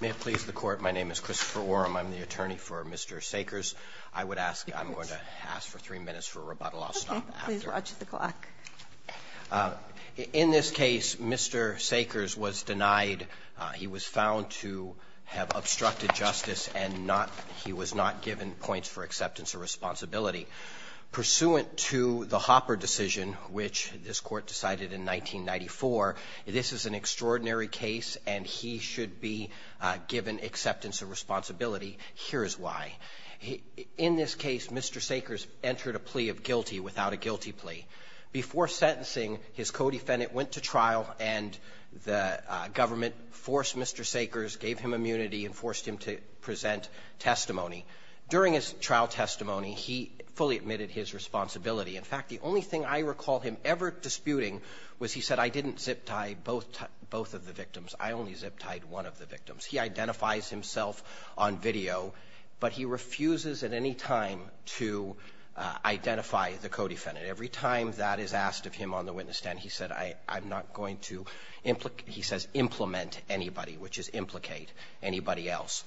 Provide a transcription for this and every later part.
May it please the Court, my name is Christopher Oram, I'm the attorney for Mr. Sakers. I would ask, I'm going to ask for three minutes for rebuttal, I'll stop after. Okay, please watch the clock. In this case, Mr. Sakers was denied, he was found to have obstructed justice and not, he was not given points for acceptance or responsibility. Pursuant to the Hopper decision, which this Court decided in 1994, this is an extraordinary case and he should be given acceptance and responsibility, here is why. In this case, Mr. Sakers entered a plea of guilty without a guilty plea. Before sentencing, his co-defendant went to trial and the government forced Mr. Sakers, gave him immunity, and forced him to present testimony. During his trial testimony, he fully admitted his responsibility. In fact, the only thing I recall him ever disputing was he said, I didn't zip-tie both of the victims, I only zip-tied one of the victims. He identifies himself on video, but he refuses at any time to identify the co-defendant. Every time that is asked of him on the witness stand, he said, I'm not going to implicate he says implement anybody, which is implicate anybody else.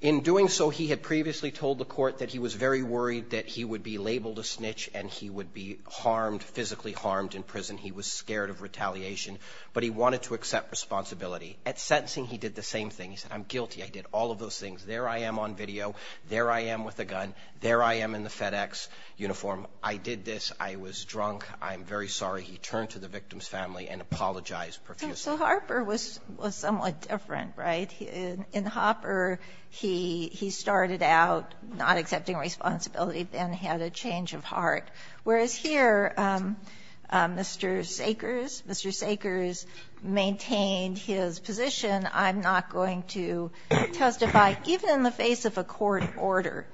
In doing so, he had previously told the Court that he was very worried that he would be labeled a snitch and he would be harmed, physically harmed in prison. He was scared of retaliation, but he wanted to accept responsibility. At sentencing, he did the same thing. He said, I'm guilty. I did all of those things. There I am on video. There I am with a gun. There I am in the FedEx uniform. I did this. I was drunk. I'm very sorry. He turned to the victim's family and apologized profusely. So Harper was somewhat different, right? In Hopper, he started out not accepting responsibility, then had a change of heart. Whereas here, Mr. Sakers, Mr. Sakers maintained his position, I'm not going to testify, even in the face of a court order.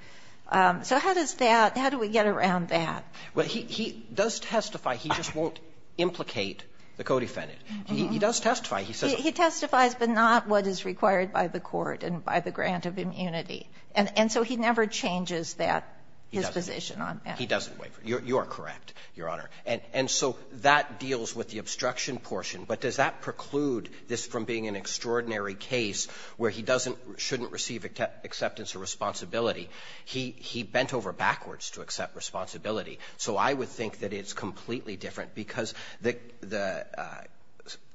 So how does that – how do we get around that? Well, he does testify. He just won't implicate the co-defendant. He does testify. He testifies, but not what is required by the court and by the grant of immunity. And so he never changes that, his position on that. He doesn't waive it. You are correct, Your Honor. And so that deals with the obstruction portion. But does that preclude this from being an extraordinary case where he doesn't – shouldn't receive acceptance or responsibility? He bent over backwards to accept responsibility. So I would think that it's completely different because the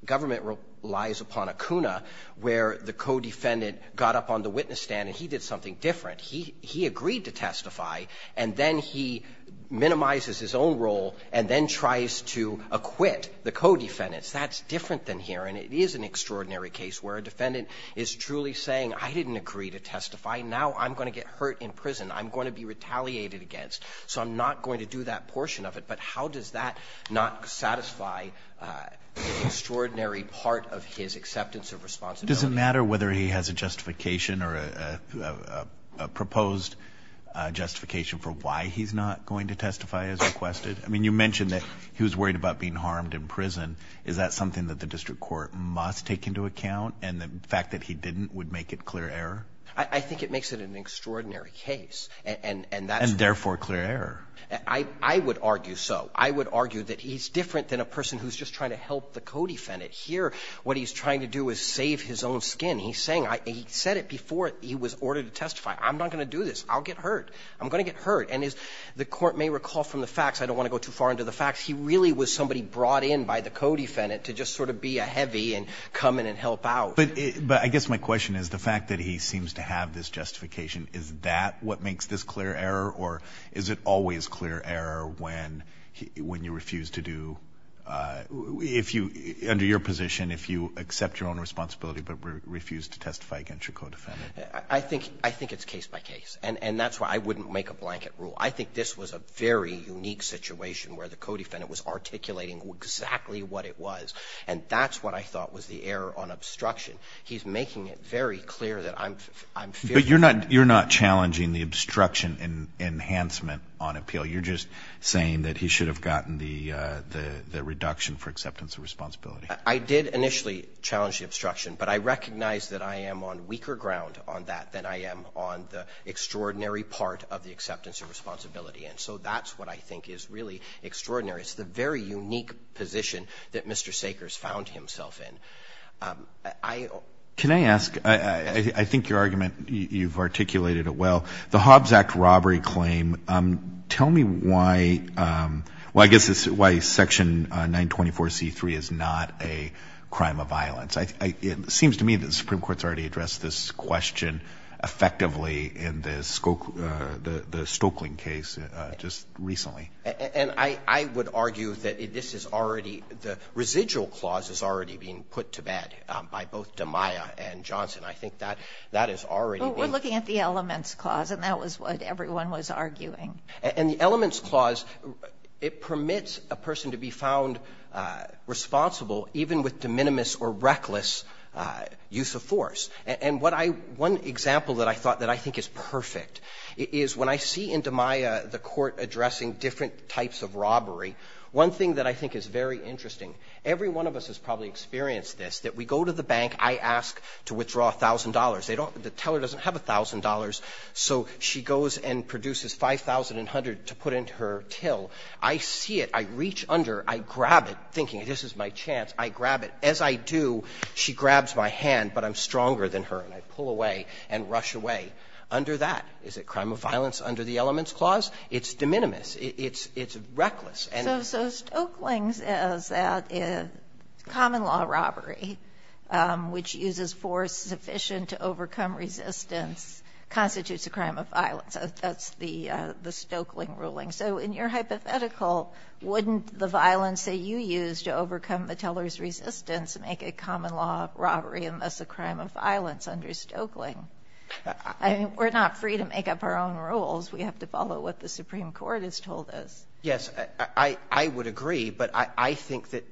government relies upon a CUNA where the co-defendant got up on the witness stand and he did something different. He agreed to testify, and then he minimizes his own role and then tries to acquit the co-defendants. That's different than here. And it is an extraordinary case where a defendant is truly saying, I didn't agree to testify. Now I'm going to get hurt in prison. I'm going to be retaliated against. So I'm not going to do that portion of it. But how does that not satisfy the extraordinary part of his acceptance of responsibility? Does it matter whether he has a justification or a proposed justification for why he's not going to testify as requested? I mean, you mentioned that he was worried about being harmed in prison. Is that something that the district court must take into account? And the fact that he didn't would make it clear error? I think it makes it an extraordinary case. And therefore clear error. I would argue so. I would argue that he's different than a person who's just trying to help the co-defendant. Here, what he's trying to do is save his own skin. He's saying, he said it before he was ordered to testify. I'm not going to do this. I'll get hurt. I'm going to get hurt. And as the court may recall from the facts, I don't want to go too far into the facts. He really was somebody brought in by the co-defendant to just sort of be a heavy and come in and help out. But I guess my question is the fact that he seems to have this justification. Is that what makes this clear error? Or is it always clear error when you refuse to do, if you, under your position, if you accept your own responsibility, but refuse to testify against your co-defendant? I think it's case by case. And that's why I wouldn't make a blanket rule. I think this was a very unique situation where the co-defendant was articulating exactly what it was. And that's what I thought was the error on obstruction. He's making it very clear that I'm fearful of that. But you're not challenging the obstruction enhancement on appeal. You're just saying that he should have gotten the reduction for acceptance of responsibility. I did initially challenge the obstruction. But I recognize that I am on weaker ground on that than I am on the extraordinary part of the acceptance of responsibility. And so that's what I think is really extraordinary. It's the very unique position that Mr. Sakers found himself in. I don't know. Can I ask, I think your argument, you've articulated it well. The Hobbs Act robbery claim, tell me why, well, I guess it's why Section 924C3 is not a crime of violence. It seems to me that the Supreme Court's already addressed this question effectively in the Stokelyn case just recently. And I would argue that this is already, the residual clause is already being put to bed by both DiMaia and Johnson. I think that that is already being used. Kagan. Well, we're looking at the Elements Clause, and that was what everyone was arguing. And the Elements Clause, it permits a person to be found responsible even with de minimis or reckless use of force. And what I one example that I thought that I think is perfect is when I see in DiMaia the Court addressing different types of robbery, one thing that I think is very interesting, every one of us has probably experienced this, that we go to the bank, I ask to withdraw $1,000. They don't, the teller doesn't have $1,000, so she goes and produces $5,100 to put into her till. I see it, I reach under, I grab it, thinking this is my chance, I grab it. As I do, she grabs my hand, but I'm stronger than her, and I pull away and rush away. Under that, is it crime of violence under the Elements Clause? It's de minimis, it's reckless. So, Stokeling's is that a common law robbery, which uses force sufficient to overcome resistance, constitutes a crime of violence. That's the Stokeling ruling. So, in your hypothetical, wouldn't the violence that you used to overcome the teller's resistance make a common law robbery a crime of violence under Stokeling? I mean, we're not free to make up our own rules. We have to follow what the Supreme Court has told us. Yes, I would agree, but I think that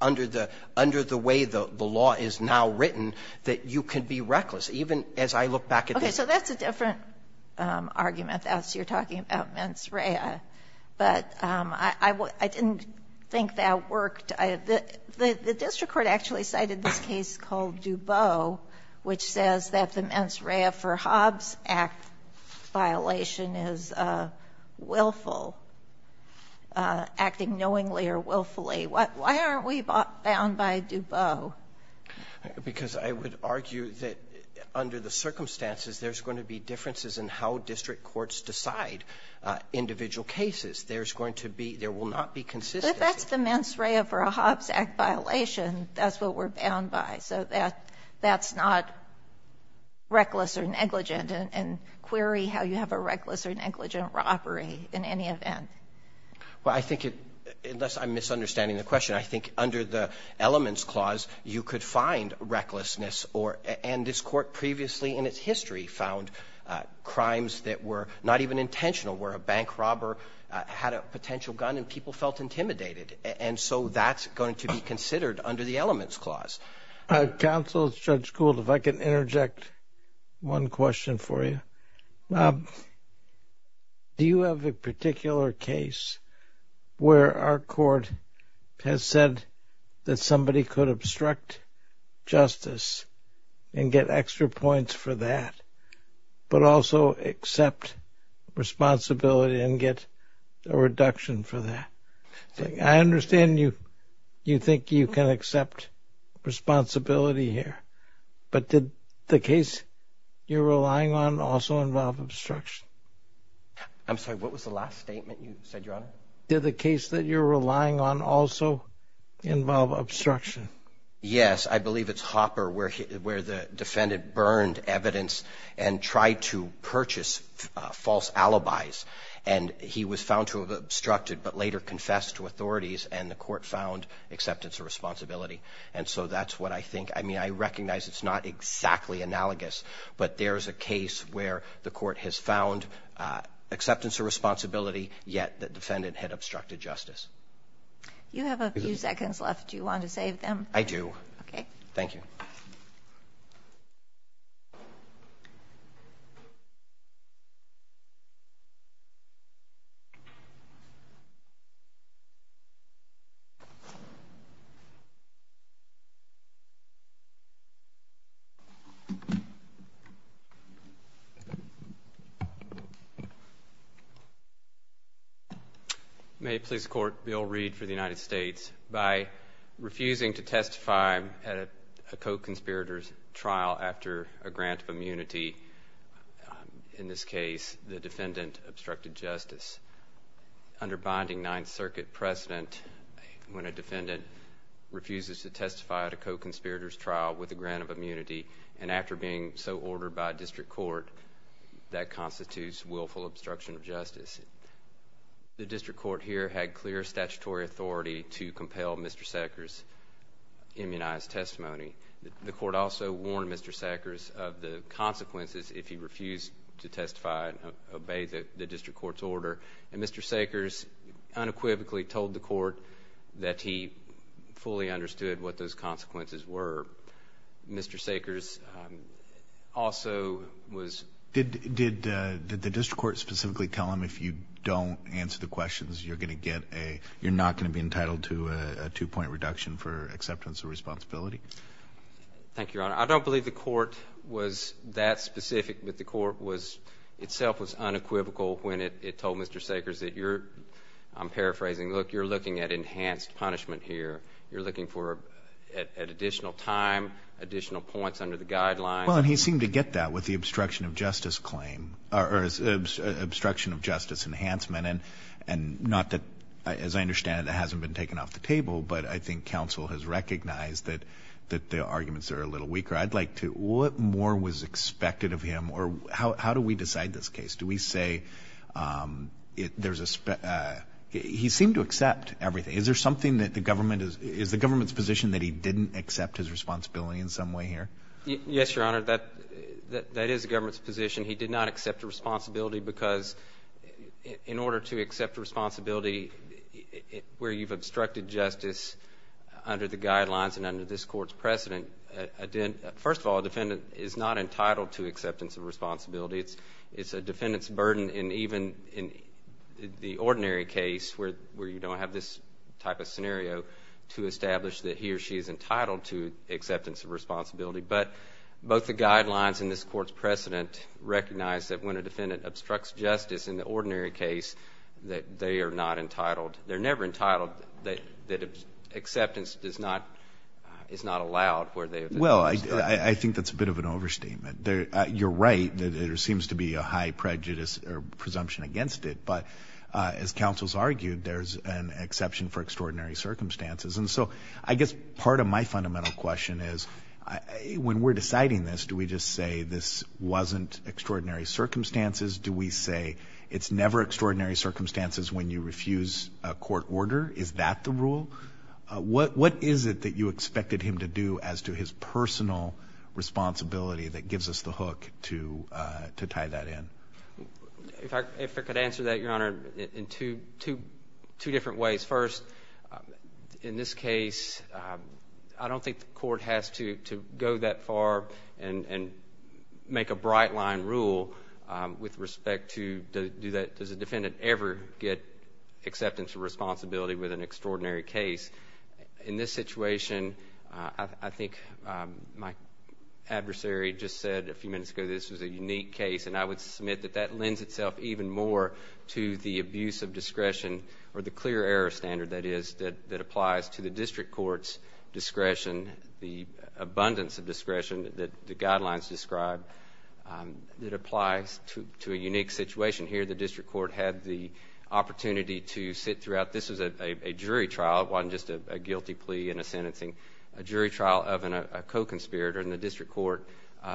under the way the law is now written, that you can be reckless, even as I look back at this. Okay. So that's a different argument, as you're talking about mens rea. But I didn't think that worked. The district court actually cited this case called Dubot, which says that the mens rea for Hobbs Act violation is willful. Acting knowingly or willfully. Why aren't we bound by Dubot? Because I would argue that under the circumstances, there's going to be differences in how district courts decide individual cases. There's going to be — there will not be consistent. But that's the mens rea for a Hobbs Act violation. That's what we're bound by. So that's not reckless or negligent, and query how you have a reckless or negligent robbery in any event. Well, I think it — unless I'm misunderstanding the question, I think under the elements clause, you could find recklessness or — and this court previously in its history found crimes that were not even intentional, where a bank robber had a potential gun and people felt intimidated. And so that's going to be considered under the elements clause. Counsel, Judge Gould, if I can interject one question for you. Do you have a particular case where our court has said that somebody could obstruct justice and get extra points for that, but also accept responsibility and get a reduction for that? I understand you think you can accept responsibility here. But did the case you're relying on also involve obstruction? I'm sorry, what was the last statement you said, Your Honor? Did the case that you're relying on also involve obstruction? Yes. I believe it's Hopper where the defendant burned evidence and tried to purchase false alibis. And he was found to have obstructed, but later confessed to authorities, and the court found acceptance of responsibility. And so that's what I think — I mean, I recognize it's not exactly analogous, but there's a case where the court has found acceptance of responsibility, yet the defendant had obstructed justice. You have a few seconds left. Do you want to save them? I do. Thank you. May it please the Court, Bill Reed for the United States. By refusing to testify at a co-conspirator's trial after a grant of immunity, in this case, obstructed justice. Under binding Ninth Circuit precedent, when a defendant refuses to testify at a co-conspirator's trial with a grant of immunity, and after being so ordered by district court, that constitutes willful obstruction of justice. The district court here had clear statutory authority to compel Mr. Sackers' immunized testimony. The court also warned Mr. Sackers of the consequences if he refused to testify and the court's order, and Mr. Sackers unequivocally told the court that he fully understood what those consequences were. Mr. Sackers also was — Did the district court specifically tell him if you don't answer the questions, you're going to get a — you're not going to be entitled to a two-point reduction for acceptance of responsibility? Thank you, Your Honor. I don't believe the court was that specific, but the court was — itself was unequivocal when it told Mr. Sackers that you're — I'm paraphrasing — look, you're looking at enhanced punishment here. You're looking for — at additional time, additional points under the guidelines. Well, and he seemed to get that with the obstruction of justice claim — or obstruction of justice enhancement, and not that — as I understand it, that hasn't been taken off the table, but I think counsel has recognized that the arguments are a little weaker. I'd like to — what more was expected of him, or how do we decide this case? Do we say there's a — he seemed to accept everything. Is there something that the government — is the government's position that he didn't accept his responsibility in some way here? Yes, Your Honor. That is the government's position. He did not accept a responsibility because in order to accept a responsibility where you've obstructed justice under the guidelines and under this court's precedent, first of all, a defendant is not entitled to acceptance of responsibility. It's a defendant's burden, and even in the ordinary case where you don't have this type of scenario, to establish that he or she is entitled to acceptance of responsibility. But both the guidelines and this court's precedent recognize that when a defendant obstructs justice in the ordinary case, that they are not entitled — they're never entitled — that acceptance does not — is not allowed where they have been. Well, I think that's a bit of an overstatement. You're right. There seems to be a high prejudice or presumption against it. But as counsels argued, there's an exception for extraordinary circumstances. And so I guess part of my fundamental question is, when we're deciding this, do we just say this wasn't extraordinary circumstances? Do we say it's never extraordinary circumstances when you refuse a court order? Is that the rule? What is it that you expected him to do as to his personal responsibility that gives us the hook to tie that in? If I could answer that, Your Honor, in two different ways. First, in this case, I don't think the court has to go that far and make a bright-line rule with respect to does a defendant ever get acceptance of responsibility with an extraordinary case. In this situation, I think my adversary just said a few minutes ago this was a unique case, and I would submit that that lends itself even more to the abuse of discretion, or the clear error standard, that is, that applies to the district court's discretion, the abundance of discretion that the guidelines describe, that applies to a unique situation here. The district court had the opportunity to sit throughout. This was a jury trial. It wasn't just a guilty plea and a sentencing. A jury trial of a co-conspirator in the district court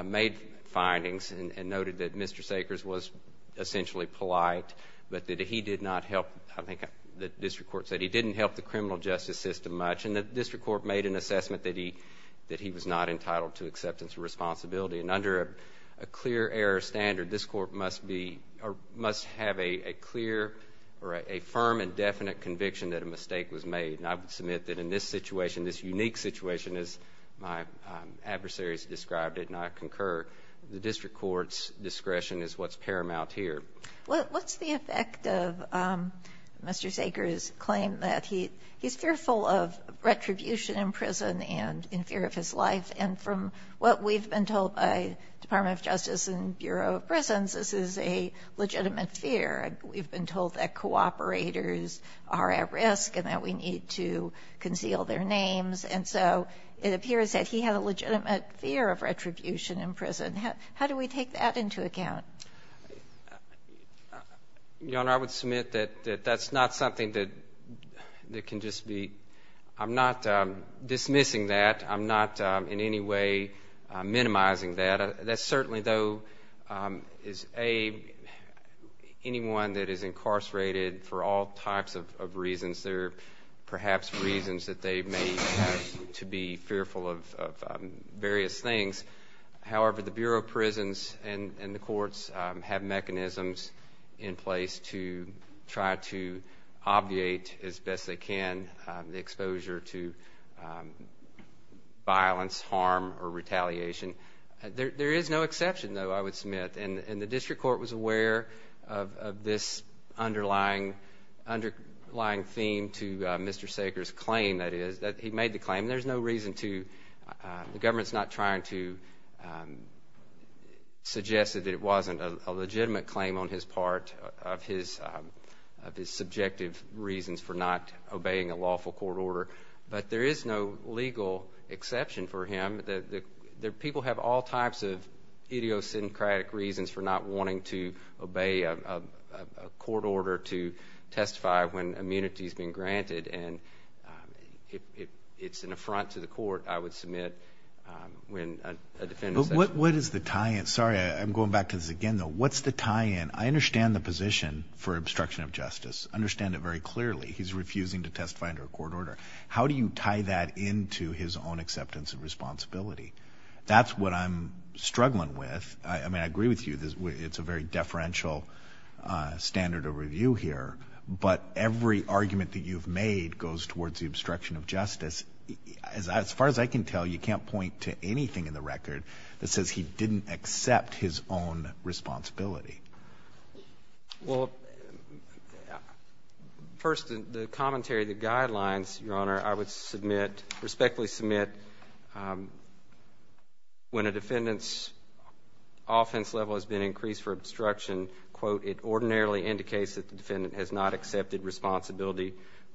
made findings and noted that Mr. Sakers was essentially polite, but that he did not help, I think the district court said he didn't help the criminal justice system much, and the district court made an assessment that he was not entitled to acceptance of responsibility, and under a clear error standard, this court must have a clear or a firm and definite conviction that a mistake was made, and I would submit that in this situation, this unique situation, as my adversaries described it, and I concur, the district court's discretion is what's paramount here. What's the effect of Mr. Sakers' claim that he's fearful of retribution in prison and in fear of his life, and from what we've been told by the Department of Justice and Bureau of Prisons, this is a legitimate fear. We've been told that cooperators are at risk and that we need to conceal their names, and so it appears that he had a legitimate fear of retribution in prison. How do we take that into account? Your Honor, I would submit that that's not something that can just be, I'm not dismissing that. I'm not in any way minimizing that. That certainly, though, is a, anyone that is incarcerated for all types of reasons, there are perhaps reasons that they may have to be fearful of various things. However, the Bureau of Prisons and the courts have mechanisms in place to try to obviate as best they can the exposure to violence, harm, or retaliation. There is no exception, though, I would submit, and the district court was aware of this underlying theme to Mr. Sakers' claim, that is, that he made the claim. There's no reason to, the government's not trying to suggest that it wasn't a legitimate claim on his part, of his subjective reasons for not obeying a lawful court order, but there is no legal exception for him. People have all types of idiosyncratic reasons for not wanting to obey a court order to testify when immunity's been granted, and it's an affront to the court, I would submit, when a defendant says. But what is the tie-in? Sorry, I'm going back to this again, though. What's the tie-in? I understand the position for obstruction of justice, understand it very clearly. He's refusing to testify under a court order. How do you tie that into his own acceptance of responsibility? That's what I'm struggling with. I mean, I agree with you, it's a very deferential standard of review here, but every argument that you've made goes towards the obstruction of justice. As far as I can tell, you can't point to anything in the record that says he didn't accept his own responsibility. Well, first, the commentary, the guidelines, Your Honor, I would submit, respectfully submit when a defendant's offense level has been increased for obstruction, quote, it ordinarily indicates that the defendant has not accepted responsibility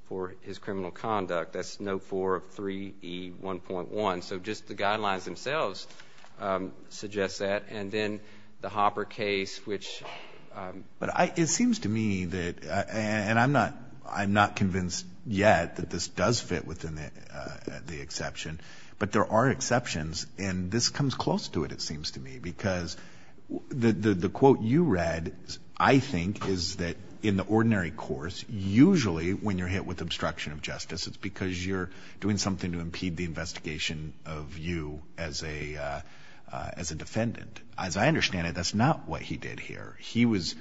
for his criminal conduct. That's note 4 of 3E1.1. So just the guidelines themselves suggest that. And then the Hopper case, which — But it seems to me that, and I'm not convinced yet that this does fit within the exception, but there are exceptions, and this comes close to it, it seems to me, because the quote you read, I think, is that in the ordinary course, usually when you're hit with obstruction of justice, it's because you're doing something to impede the investigation of you as a defendant. As I understand it, that's not what he did here. He was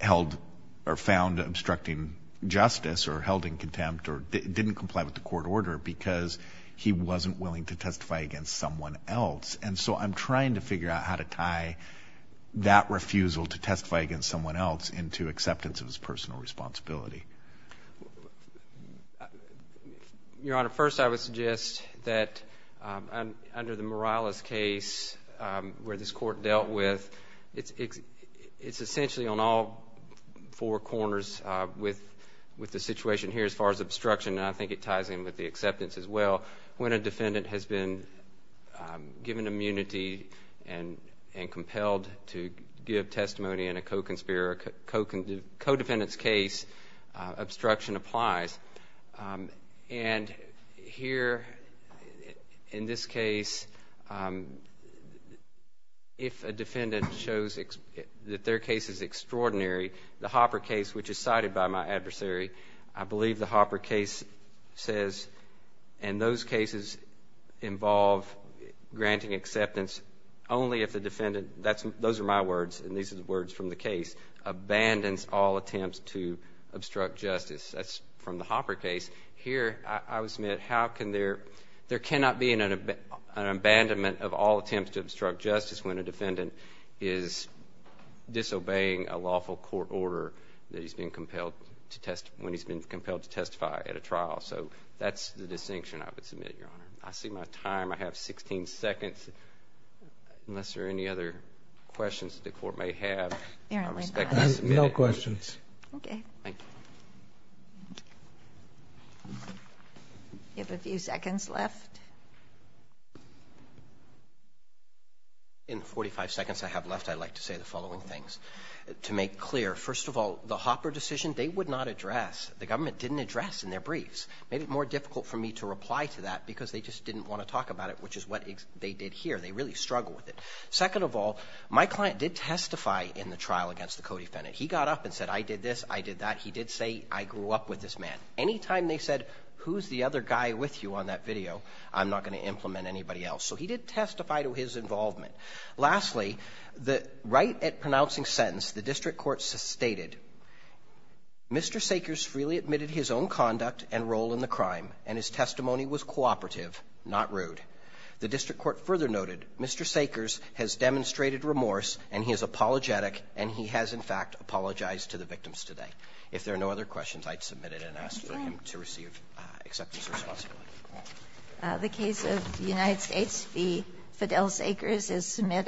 held or found obstructing justice or held in contempt or didn't comply with the court order because he wasn't willing to testify against someone else. And so I'm trying to figure out how to tie that refusal to testify against someone else into acceptance of his personal responsibility. Your Honor, first I would suggest that under the Morales case, where this court dealt with, it's essentially on all four corners with the situation here as far as obstruction, and I think it ties in with the acceptance as well. When a defendant has been given immunity and compelled to give testimony in a co-conspirator, co-defendant's case, obstruction applies. And here, in this case, if a defendant shows that their case is extraordinary, the Hopper case says, and those cases involve granting acceptance only if the defendant, those are my words and these are the words from the case, abandons all attempts to obstruct justice. That's from the Hopper case. Here I would submit how can there, there cannot be an abandonment of all attempts to obstruct justice when a defendant is disobeying a lawful court order that he's been compelled to testify at a trial. So that's the distinction I would submit, Your Honor. I see my time. I have 16 seconds, unless there are any other questions that the court may have. There are only five. No questions. Okay. Thank you. You have a few seconds left. In the 45 seconds I have left, I'd like to say the following things. To make clear, first of all, the Hopper decision, they would not address. The government didn't address in their briefs. It made it more difficult for me to reply to that because they just didn't want to talk about it, which is what they did here. They really struggled with it. Second of all, my client did testify in the trial against the co-defendant. He got up and said, I did this, I did that. He did say, I grew up with this man. Any time they said, who's the other guy with you on that video, I'm not going to implement anybody else. So he did testify to his involvement. Lastly, the right at pronouncing sentence, the district court stated, Mr. Sakers freely admitted his own conduct and role in the crime, and his testimony was cooperative, not rude. The district court further noted, Mr. Sakers has demonstrated remorse, and he is apologetic, and he has, in fact, apologized to the victims today. If there are no other questions, I'd submit it and ask for him to receive acceptance or responsibility. The case of the United States v. Fidel Sakers is submitted.